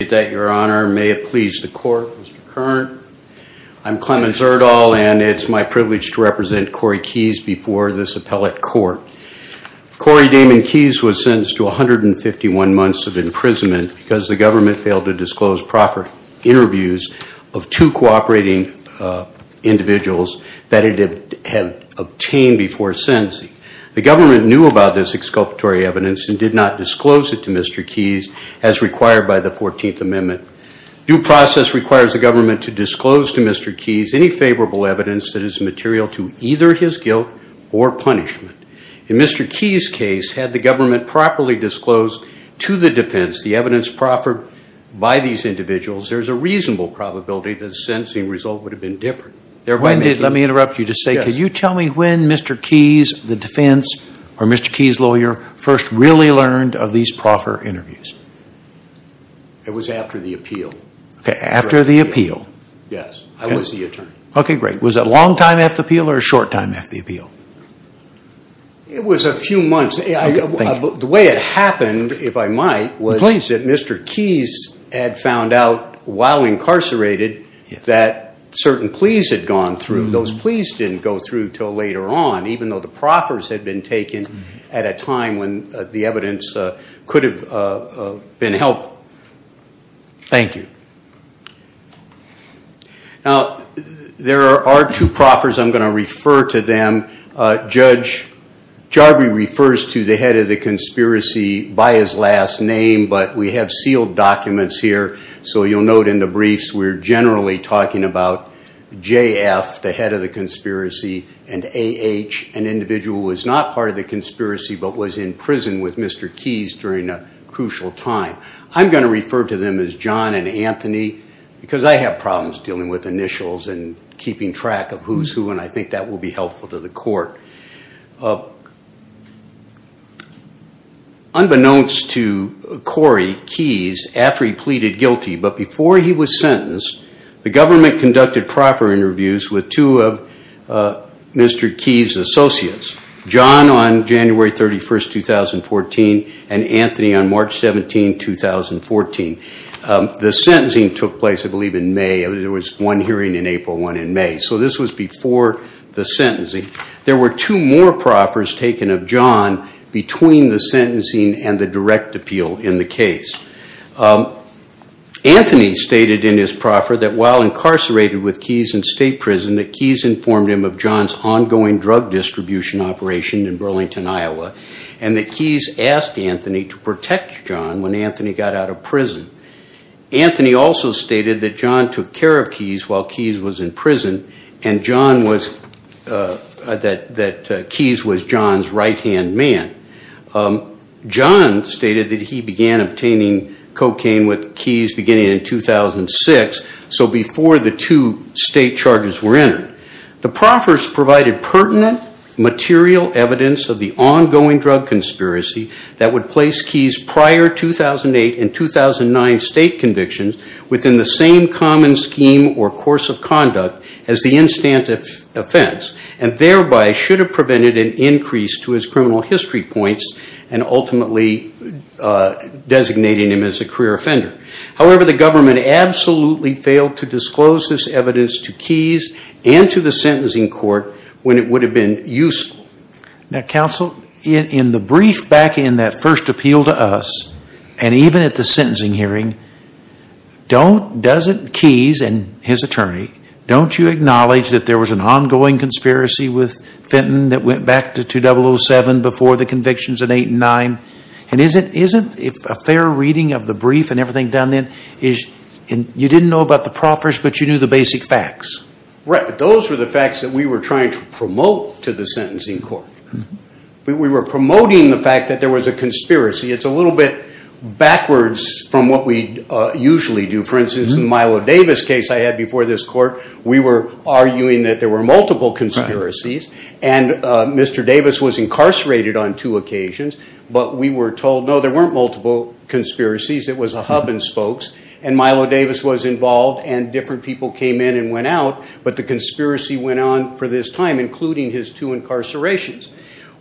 May it please the court, Mr. Kern. I'm Clemens Erdahl, and it's my privilege to represent Corey Keys before this appellate court. Corey Damon Keys was sentenced to 151 months of imprisonment because the government failed to disclose proper interviews of two cooperating individuals that it had obtained before sentencing. The government knew about this exculpatory evidence and did not disclose it to Mr. Keys as required by the 14th Amendment. Due process requires the government to disclose to Mr. Keys any favorable evidence that is material to either his guilt or punishment. In Mr. Keys' case, had the government properly disclosed to the defense the evidence proffered by these individuals, there's a reasonable probability that the sentencing result would have been different. Let me interrupt you to say, can you tell me when Mr. Keys, the defense, or Mr. Keys' lawyer first really learned of these proper interviews? It was after the appeal. Okay, after the appeal. Yes, I was the attorney. Okay, great. Was it a long time after the appeal or a short time after the appeal? It was a few months. The way it happened, if I might, was that Mr. Keys had found out while incarcerated that certain pleas had gone through. Those pleas didn't go through until later on, even though the proffers had been taken at a time when the evidence could have been helped. Thank you. Now, there are two proffers. I'm going to refer to them. Judge Jarby refers to the head of the conspiracy by his last name, but we have sealed documents here, so you'll note in the briefs we're generally talking about J.F., the head of the conspiracy, and A.H., an individual who was not part of the conspiracy but was in prison with Mr. Keys during a crucial time. I'm going to refer to them as John and Anthony because I have problems dealing with initials and keeping track of who's who, and I think that will be helpful to the court. Unbeknownst to Corey Keys, after he pleaded guilty but before he was sentenced, the government conducted proffer interviews with two of Mr. Keys' associates, John on January 31, 2014, and Anthony on March 17, 2014. The sentencing took place, I believe, in May. There was one hearing in April and one in May, so this was before the sentencing. There were two more proffers taken of John between the sentencing and the direct appeal in the case. Anthony stated in his proffer that while incarcerated with Keys in state prison, that Keys informed him of John's ongoing drug distribution operation in Burlington, Iowa, and that Keys asked Anthony to protect John when Anthony got out of prison. Anthony also stated that John took care of Keys while Keys was in prison and that Keys was John's right-hand man. John stated that he began obtaining cocaine with Keys beginning in 2006, so before the two state charges were entered. The proffers provided pertinent material evidence of the ongoing drug conspiracy that would place Keys' prior 2008 and 2009 state convictions within the same common scheme or course of conduct as the instant offense and thereby should have prevented an increase to his criminal history points and ultimately designating him as a career offender. However, the government absolutely failed to disclose this evidence to Keys and to the sentencing court when it would have been useful. Now counsel, in the brief back in that first appeal to us and even at the sentencing hearing, doesn't Keys and his attorney, don't you acknowledge that there was an ongoing conspiracy with Fenton that went back to 2007 before the convictions in 2008 and 2009? And isn't a fair reading of the brief and everything done then, you didn't know about the proffers but you knew the basic facts? Those were the facts that we were trying to promote to the sentencing court. We were promoting the fact that there was a conspiracy. It's a little bit backwards from what we usually do. For instance, in the Milo Davis case I had before this court, we were arguing that there were multiple conspiracies and Mr. Davis was incarcerated on two occasions. But we were told, no, there weren't multiple conspiracies. It was a hub and spokes. And Milo Davis was involved and different people came in and went out. But the conspiracy went on for this time, including his two incarcerations.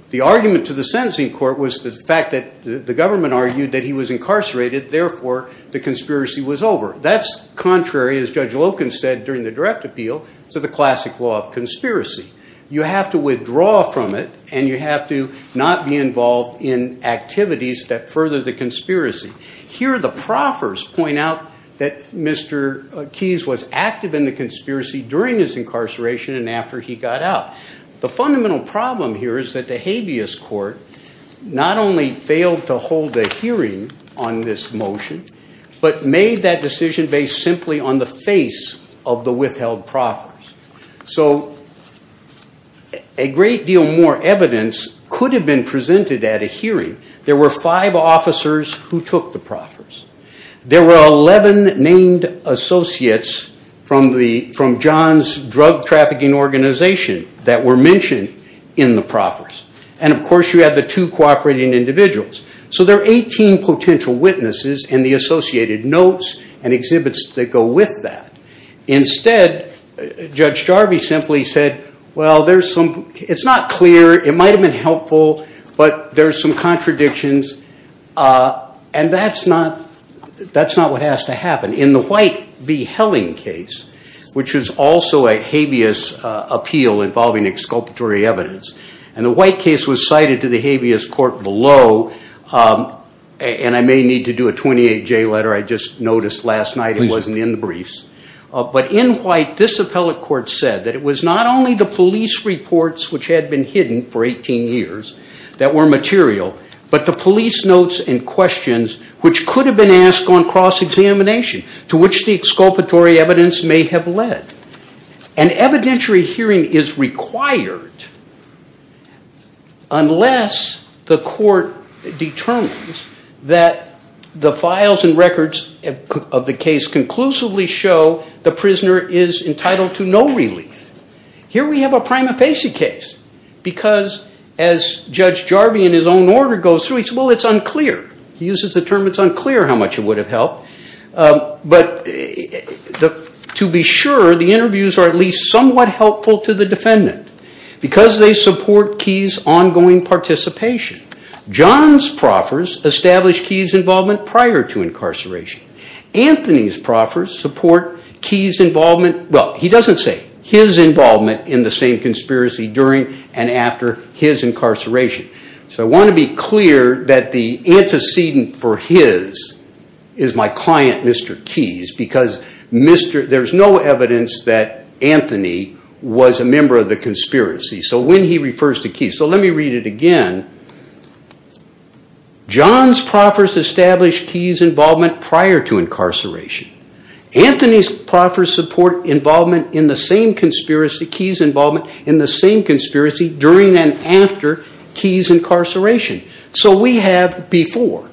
The argument to the sentencing court was the fact that the government argued that he was incarcerated. Therefore, the conspiracy was over. That's contrary, as Judge Loken said during the direct appeal, to the classic law of conspiracy. You have to withdraw from it and you have to not be involved in activities that further the conspiracy. Here the proffers point out that Mr. Keyes was active in the conspiracy during his incarceration and after he got out. The fundamental problem here is that the habeas court not only failed to hold a hearing on this motion but made that decision based simply on the face of the withheld proffers. So a great deal more evidence could have been presented at a hearing. There were five officers who took the proffers. There were 11 named associates from John's drug trafficking organization that were mentioned in the proffers. And, of course, you had the two cooperating individuals. So there are 18 potential witnesses in the associated notes and exhibits that go with that. Instead, Judge Jarvie simply said, well, it's not clear. It might have been helpful, but there are some contradictions. And that's not what has to happen. In the White v. Helling case, which was also a habeas appeal involving exculpatory evidence, and the White case was cited to the habeas court below, and I may need to do a 28-J letter. I just noticed last night it wasn't in the briefs. But in White, this appellate court said that it was not only the police reports, which had been hidden for 18 years, that were material, but the police notes and questions which could have been asked on cross-examination to which the exculpatory evidence may have led. An evidentiary hearing is required unless the court determines that the files and records of the case conclusively show the prisoner is entitled to no relief. Here we have a prima facie case, because as Judge Jarvie in his own order goes through, he says, well, it's unclear. He uses the term it's unclear how much it would have helped. But to be sure, the interviews are at least somewhat helpful to the defendant, because they support Key's ongoing participation. John's proffers establish Key's involvement prior to incarceration. Anthony's proffers support Key's involvement, well, he doesn't say his involvement in the same conspiracy during and after his incarceration. So I want to be clear that the antecedent for his is my client, Mr. Keys, because there's no evidence that Anthony was a member of the conspiracy. So when he refers to Key, so let me read it again. John's proffers establish Key's involvement prior to incarceration. Anthony's proffers support Key's involvement in the same conspiracy during and after Key's incarceration. So we have before,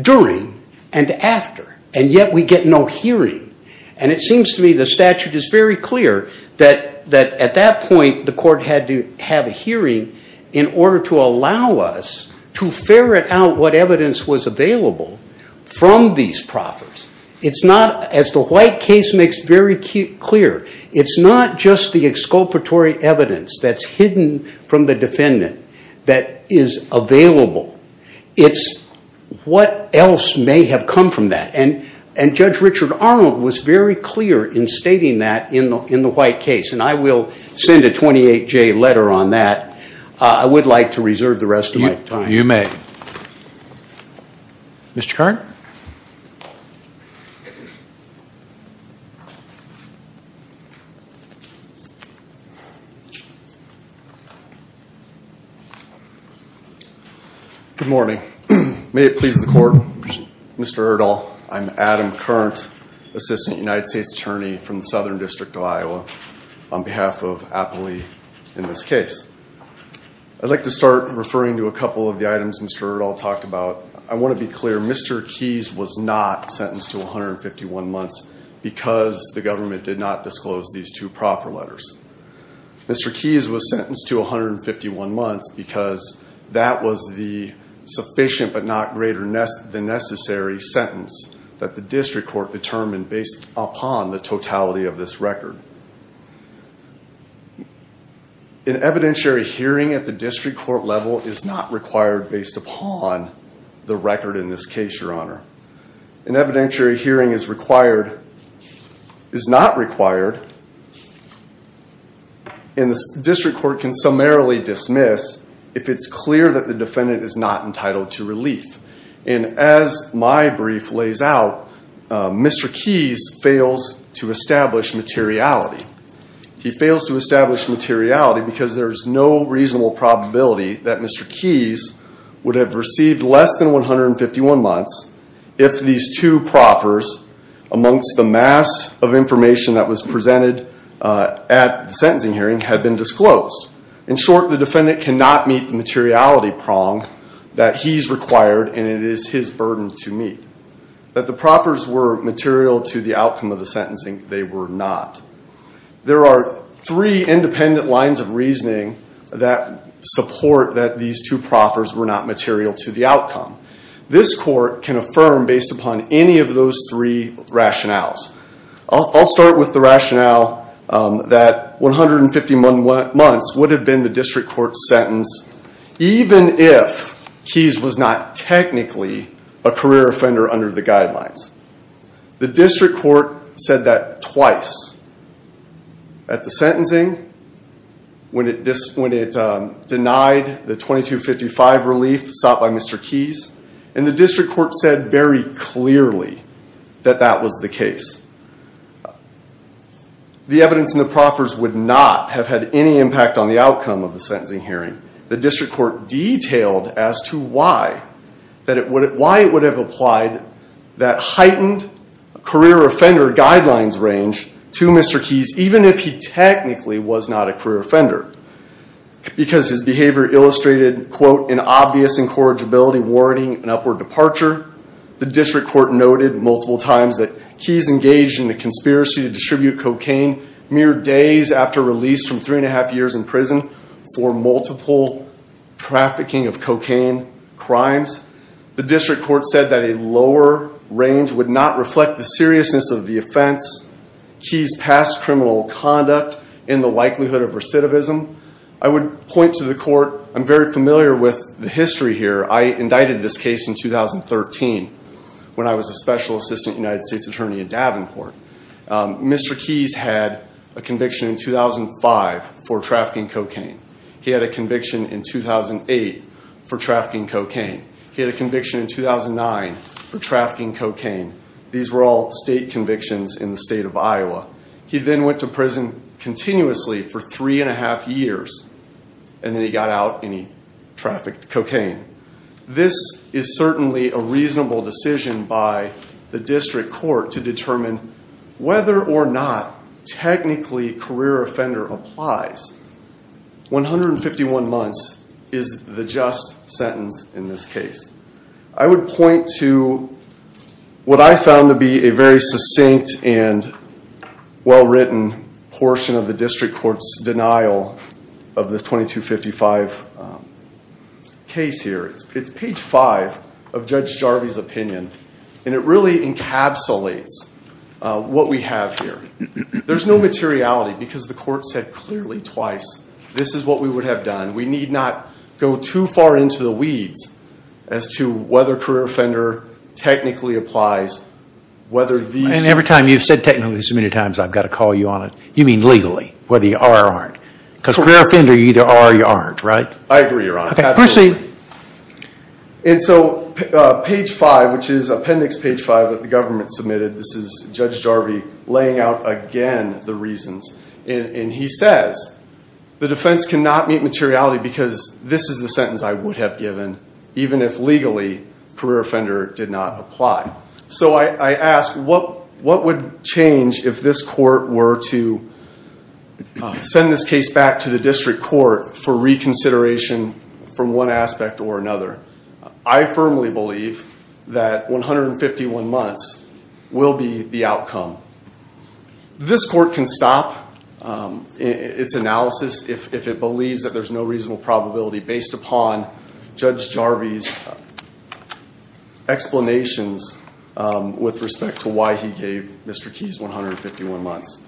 during, and after, and yet we get no hearing. And it seems to me the statute is very clear that at that point the court had to have a hearing in order to allow us to ferret out what evidence was available from these proffers. It's not, as the White case makes very clear, it's not just the exculpatory evidence that's hidden from the defendant that is available. It's what else may have come from that. And Judge Richard Arnold was very clear in stating that in the White case. And I will send a 28-J letter on that. I would like to reserve the rest of my time. You may. Mr. Kern? Good morning. May it please the court, Mr. Erdahl, I'm Adam Kern, Assistant United States Attorney from the Southern District of Iowa, on behalf of Appley in this case. I'd like to start referring to a couple of the items Mr. Erdahl talked about. I want to be clear, Mr. Keyes was not sentenced to 151 months because the government did not disclose these two proffer letters. Mr. Keyes was sentenced to 151 months because that was the sufficient but not greater than necessary sentence that the district court determined based upon the totality of this record. An evidentiary hearing at the district court level is not required based upon the record in this case, Your Honor. An evidentiary hearing is required, is not required, and the district court can summarily dismiss if it's clear that the defendant is not entitled to relief. And as my brief lays out, Mr. Keyes fails to establish materiality. He fails to establish materiality because there's no reasonable probability that Mr. Keyes would have received less than 151 months if these two proffers, amongst the mass of information that was presented at the sentencing hearing, had been disclosed. In short, the defendant cannot meet the materiality prong that he's required and it is his burden to meet. That the proffers were material to the outcome of the sentencing, they were not. There are three independent lines of reasoning that support that these two proffers were not material to the outcome. This court can affirm based upon any of those three rationales. I'll start with the rationale that 151 months would have been the district court's sentence even if Keyes was not technically a career offender under the guidelines. The district court said that twice at the sentencing when it denied the 2255 relief sought by Mr. Keyes. And the district court said very clearly that that was the case. The evidence in the proffers would not have had any impact on the outcome of the sentencing hearing. The district court detailed as to why it would have applied that heightened career offender guidelines range to Mr. Keyes even if he technically was not a career offender. Because his behavior illustrated, quote, an obvious incorrigibility warning and upward departure. The district court noted multiple times that Keyes engaged in a conspiracy to distribute cocaine mere days after release from three and a half years in prison for multiple trafficking of cocaine crimes. The district court said that a lower range would not reflect the seriousness of the offense. Keyes passed criminal conduct in the likelihood of recidivism. I would point to the court. I'm very familiar with the history here. I indicted this case in 2013 when I was a special assistant United States attorney at Davenport. Mr. Keyes had a conviction in 2005 for trafficking cocaine. He had a conviction in 2008 for trafficking cocaine. He had a conviction in 2009 for trafficking cocaine. These were all state convictions in the state of Iowa. He then went to prison continuously for three and a half years and then he got out and he trafficked cocaine. This is certainly a reasonable decision by the district court to determine whether or not technically career offender applies. 151 months is the just sentence in this case. I would point to what I found to be a very succinct and well-written portion of the district court's denial of the 2255 case here. It's page five of Judge Jarvie's opinion and it really encapsulates what we have here. There's no materiality because the court said clearly twice this is what we would have done. We need not go too far into the weeds as to whether career offender technically applies. And every time you've said technically so many times I've got to call you on it. You mean legally, whether you are or aren't. Because career offender, you either are or you aren't, right? I agree, Your Honor. Okay, proceed. And so page five, which is appendix page five that the government submitted, this is Judge Jarvie laying out again the reasons. And he says the defense cannot meet materiality because this is the sentence I would have given even if legally career offender did not apply. So I ask what would change if this court were to send this case back to the district court for reconsideration from one aspect or another? I firmly believe that 151 months will be the outcome. This court can stop its analysis if it believes that there's no reasonable probability based upon Judge Jarvie's explanations with respect to why he gave Mr. Keyes 151 months.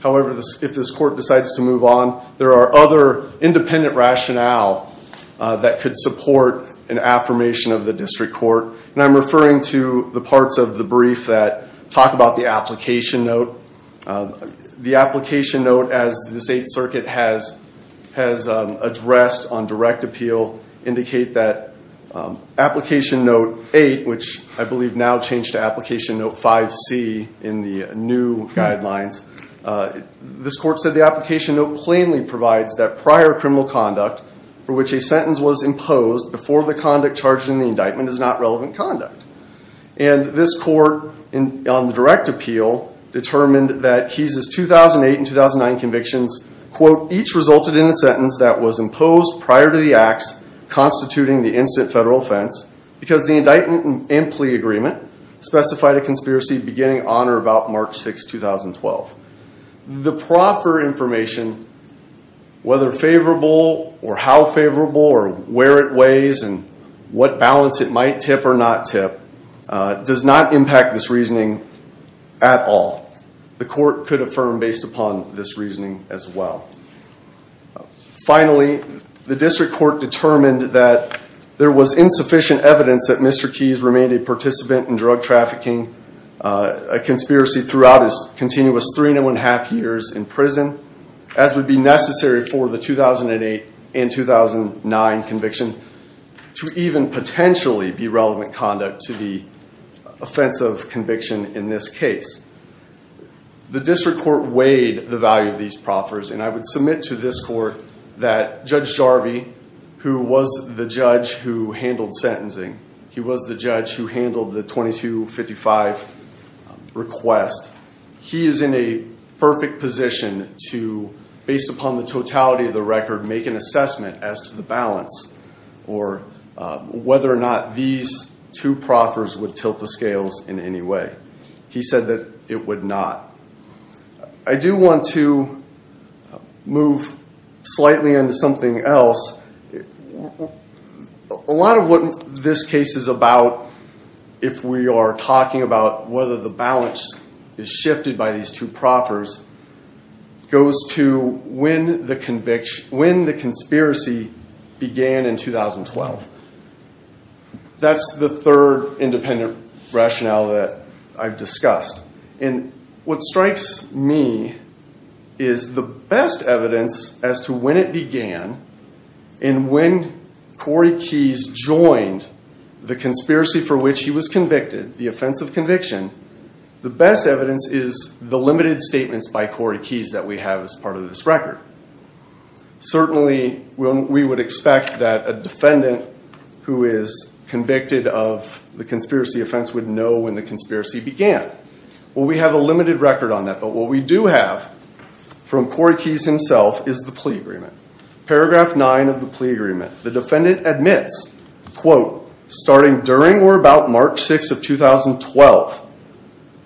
However, if this court decides to move on, there are other independent rationale that could support an affirmation of the district court. And I'm referring to the parts of the brief that talk about the application note. The application note, as the State Circuit has addressed on direct appeal, indicate that application note eight, which I believe now changed to application note 5C in the new guidelines, this court said the application note plainly provides that prior criminal conduct for which a sentence was imposed before the conduct charged in the indictment is not relevant conduct. And this court, on the direct appeal, determined that Keyes' 2008 and 2009 convictions, quote, each resulted in a sentence that was imposed prior to the acts constituting the instant federal offense because the indictment and plea agreement specified a conspiracy beginning on or about March 6, 2012. The proper information, whether favorable or how favorable or where it weighs and what balance it might tip or not tip, does not impact this reasoning at all. The court could affirm based upon this reasoning as well. Finally, the district court determined that there was insufficient evidence that Mr. Keyes remained a participant in drug trafficking, a conspiracy throughout his continuous three and a half years in prison, as would be necessary for the 2008 and 2009 conviction, to even potentially be relevant conduct to the offensive conviction in this case. The district court weighed the value of these proffers, and I would submit to this court that Judge Jarvie, who was the judge who handled sentencing, he was the judge who handled the 2255 request, he is in a perfect position to, based upon the totality of the record, make an assessment as to the balance or whether or not these two proffers would tilt the scales in any way. He said that it would not. I do want to move slightly into something else. A lot of what this case is about, if we are talking about whether the balance is shifted by these two proffers, goes to when the conspiracy began in 2012. That's the third independent rationale that I've discussed. What strikes me is the best evidence as to when it began and when Corey Keyes joined the conspiracy for which he was convicted, the offensive conviction, the best evidence is the limited statements by Corey Keyes that we have as part of this record. Certainly, we would expect that a defendant who is convicted of the conspiracy offense would know when the conspiracy began. Well, we have a limited record on that, but what we do have from Corey Keyes himself is the plea agreement. Paragraph 9 of the plea agreement, the defendant admits, quote, starting during or about March 6 of 2012,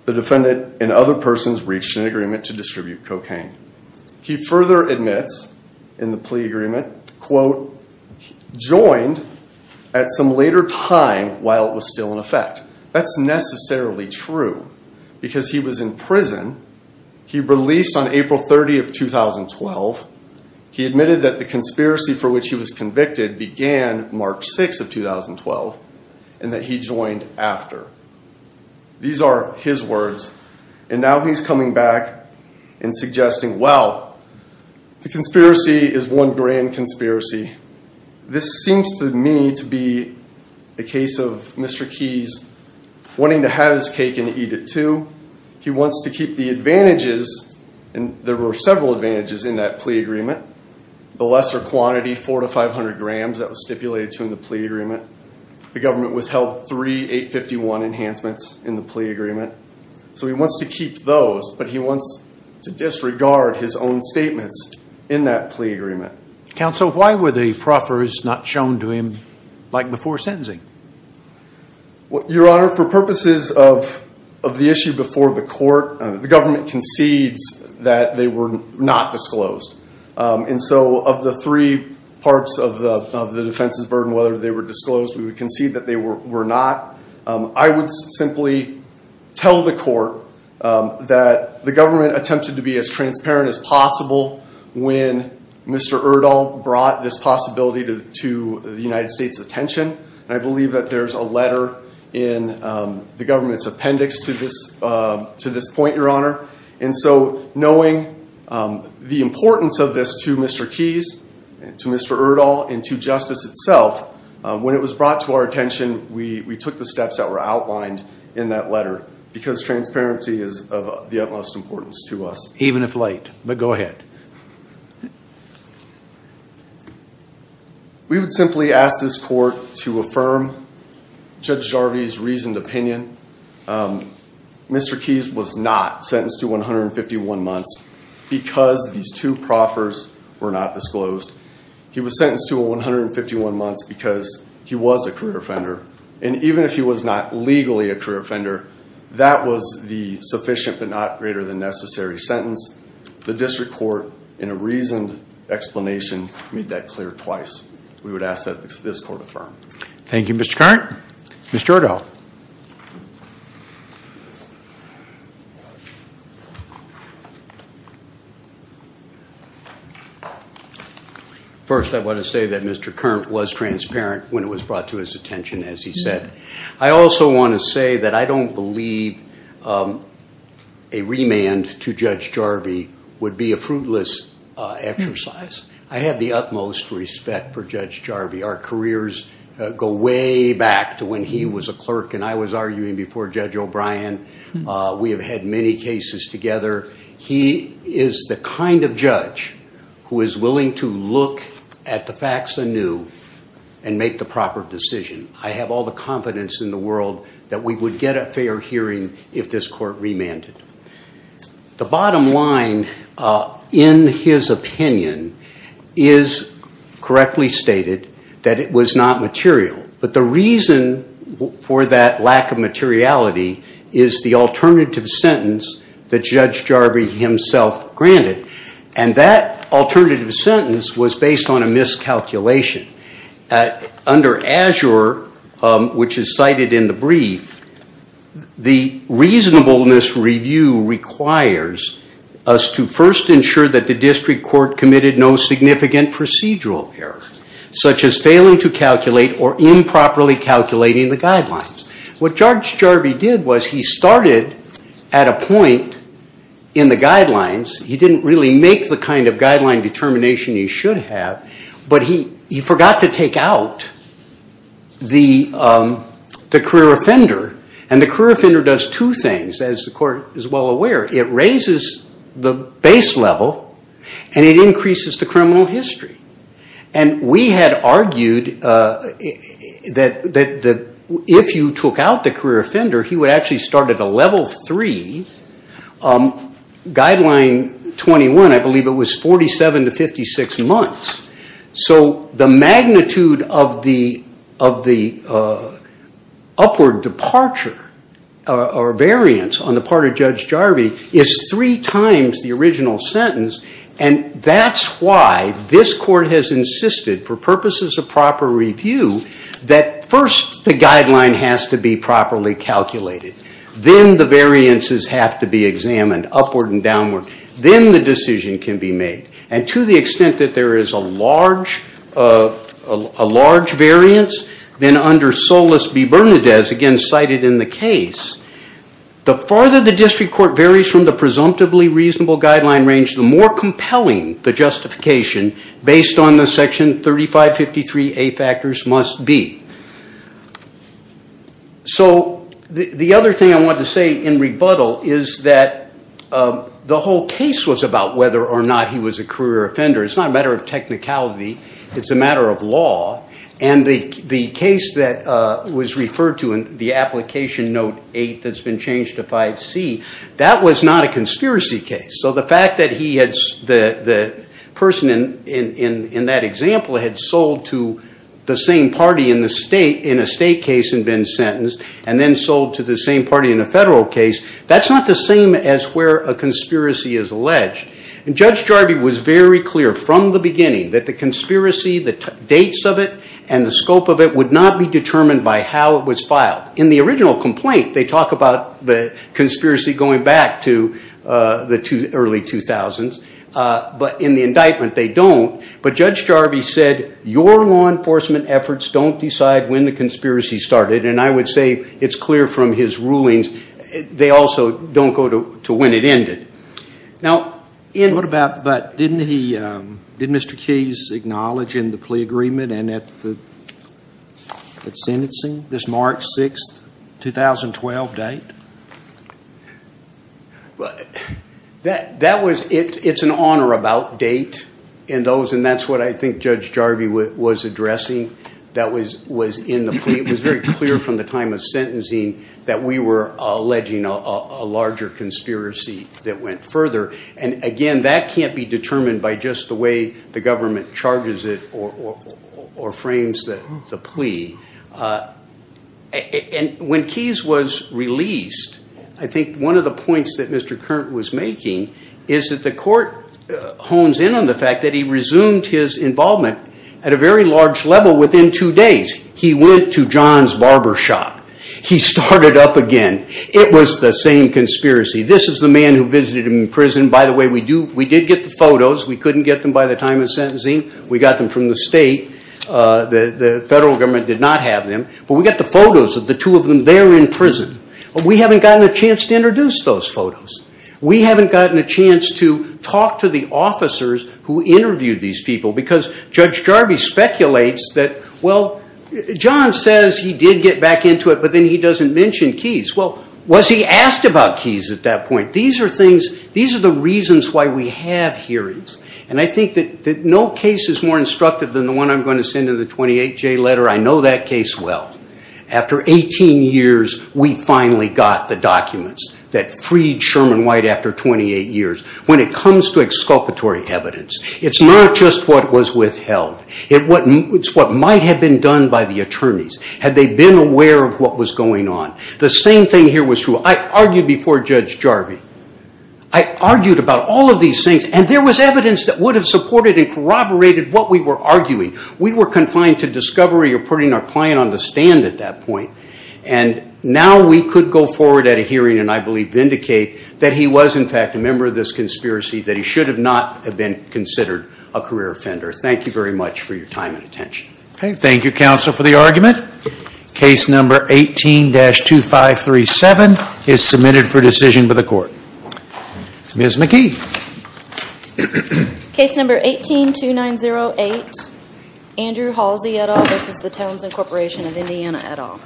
the defendant and other persons reached an agreement to distribute cocaine. He further admits in the plea agreement, quote, joined at some later time while it was still in effect. That's necessarily true because he was in prison. He released on April 30 of 2012. He admitted that the conspiracy for which he was convicted began March 6 of 2012 and that he joined after. These are his words, and now he's coming back and suggesting, well, the conspiracy is one grand conspiracy. This seems to me to be a case of Mr. Keyes wanting to have his cake and eat it too. He wants to keep the advantages, and there were several advantages in that plea agreement, the lesser quantity, 400 to 500 grams that was stipulated to him in the plea agreement. The government withheld three 851 enhancements in the plea agreement, so he wants to keep those, but he wants to disregard his own statements in that plea agreement. Counsel, why were the proffers not shown to him like before sentencing? Your Honor, for purposes of the issue before the court, the government concedes that they were not disclosed, and so of the three parts of the defense's burden, whether they were disclosed, we would concede that they were not. I would simply tell the court that the government attempted to be as transparent as possible when Mr. Erdahl brought this possibility to the United States' attention, and I believe that there's a letter in the government's appendix to this point, Your Honor. And so knowing the importance of this to Mr. Keyes, to Mr. Erdahl, and to justice itself, when it was brought to our attention, we took the steps that were outlined in that letter because transparency is of the utmost importance to us. Even if late, but go ahead. We would simply ask this court to affirm Judge Jarvie's reasoned opinion. Mr. Keyes was not sentenced to 151 months because these two proffers were not disclosed. He was sentenced to 151 months because he was a career offender, and even if he was not legally a career offender, that was the sufficient but not greater than necessary sentence. The district court, in a reasoned explanation, made that clear twice. We would ask that this court affirm. Thank you, Mr. Kern. Mr. Erdahl. First, I want to say that Mr. Kern was transparent when it was brought to his attention, as he said. I also want to say that I don't believe a remand to Judge Jarvie would be a fruitless exercise. I have the utmost respect for Judge Jarvie. Our careers go way back to when he was a clerk and I was arguing before Judge O'Brien. We have had many cases together. He is the kind of judge who is willing to look at the facts anew and make the proper decision. I have all the confidence in the world that we would get a fair hearing if this court remanded. The bottom line, in his opinion, is correctly stated, that it was not material. But the reason for that lack of materiality is the alternative sentence that Judge Jarvie himself granted, and that alternative sentence was based on a miscalculation. Under Azure, which is cited in the brief, the reasonableness review requires us to first ensure that the district court committed no significant procedural error, such as failing to calculate or improperly calculating the guidelines. What Judge Jarvie did was he started at a point in the guidelines. He didn't really make the kind of guideline determination he should have, but he forgot to take out the career offender. The career offender does two things, as the court is well aware. It raises the base level and it increases the criminal history. We had argued that if you took out the career offender, he would actually start at a level three guideline 21. I believe it was 47 to 56 months. So the magnitude of the upward departure or variance on the part of Judge Jarvie is three times the original sentence, and that's why this court has insisted, for purposes of proper review, that first the guideline has to be properly calculated. Then the variances have to be examined, upward and downward. Then the decision can be made. And to the extent that there is a large variance, then under Solis v. Bernadez, again cited in the case, the farther the district court varies from the presumptively reasonable guideline range, the more compelling the justification based on the section 3553A factors must be. So the other thing I wanted to say in rebuttal is that the whole case was about whether or not he was a career offender. It's not a matter of technicality. It's a matter of law. And the case that was referred to in the application note 8 that's been changed to 5C, that was not a conspiracy case. So the fact that the person in that example had sold to the same party in a state case and been sentenced and then sold to the same party in a federal case, that's not the same as where a conspiracy is alleged. And Judge Jarvie was very clear from the beginning that the conspiracy, the dates of it, and the scope of it would not be determined by how it was filed. In the original complaint, they talk about the conspiracy going back to the early 2000s. But in the indictment, they don't. But Judge Jarvie said, your law enforcement efforts don't decide when the conspiracy started. And I would say it's clear from his rulings they also don't go to when it ended. But didn't he, did Mr. Keyes acknowledge in the plea agreement and at the sentencing this March 6, 2012 date? That was, it's an honor about date and those, and that's what I think Judge Jarvie was addressing. That was in the plea. It was very clear from the time of sentencing that we were alleging a larger conspiracy that went further. And again, that can't be determined by just the way the government charges it or frames the plea. And when Keyes was released, I think one of the points that Mr. Curran was making is that the court hones in on the fact that he resumed his involvement at a very large level within two days. He went to John's Barbershop. He started up again. It was the same conspiracy. This is the man who visited him in prison. By the way, we did get the photos. We couldn't get them by the time of sentencing. We got them from the state. The federal government did not have them. But we got the photos of the two of them there in prison. But we haven't gotten a chance to introduce those photos. We haven't gotten a chance to talk to the officers who interviewed these people because Judge Jarvie speculates that, well, John says he did get back into it, but then he doesn't mention Keyes. Well, was he asked about Keyes at that point? These are the reasons why we have hearings. And I think that no case is more instructive than the one I'm going to send in the 28J letter. I know that case well. After 18 years, we finally got the documents that freed Sherman White after 28 years. When it comes to exculpatory evidence, it's not just what was withheld. It's what might have been done by the attorneys had they been aware of what was going on. The same thing here was true. I argued before Judge Jarvie. I argued about all of these things, and there was evidence that would have supported and corroborated what we were arguing. We were confined to discovery or putting our client on the stand at that point, and now we could go forward at a hearing and, I believe, vindicate that he was, in fact, a member of this conspiracy, that he should not have been considered a career offender. Thank you very much for your time and attention. Thank you, counsel, for the argument. Case number 18-2537 is submitted for decision by the court. Ms. McKee. Case number 18-2908, Andrew Halsey et al. v. Townsend Corporation of Indiana et al.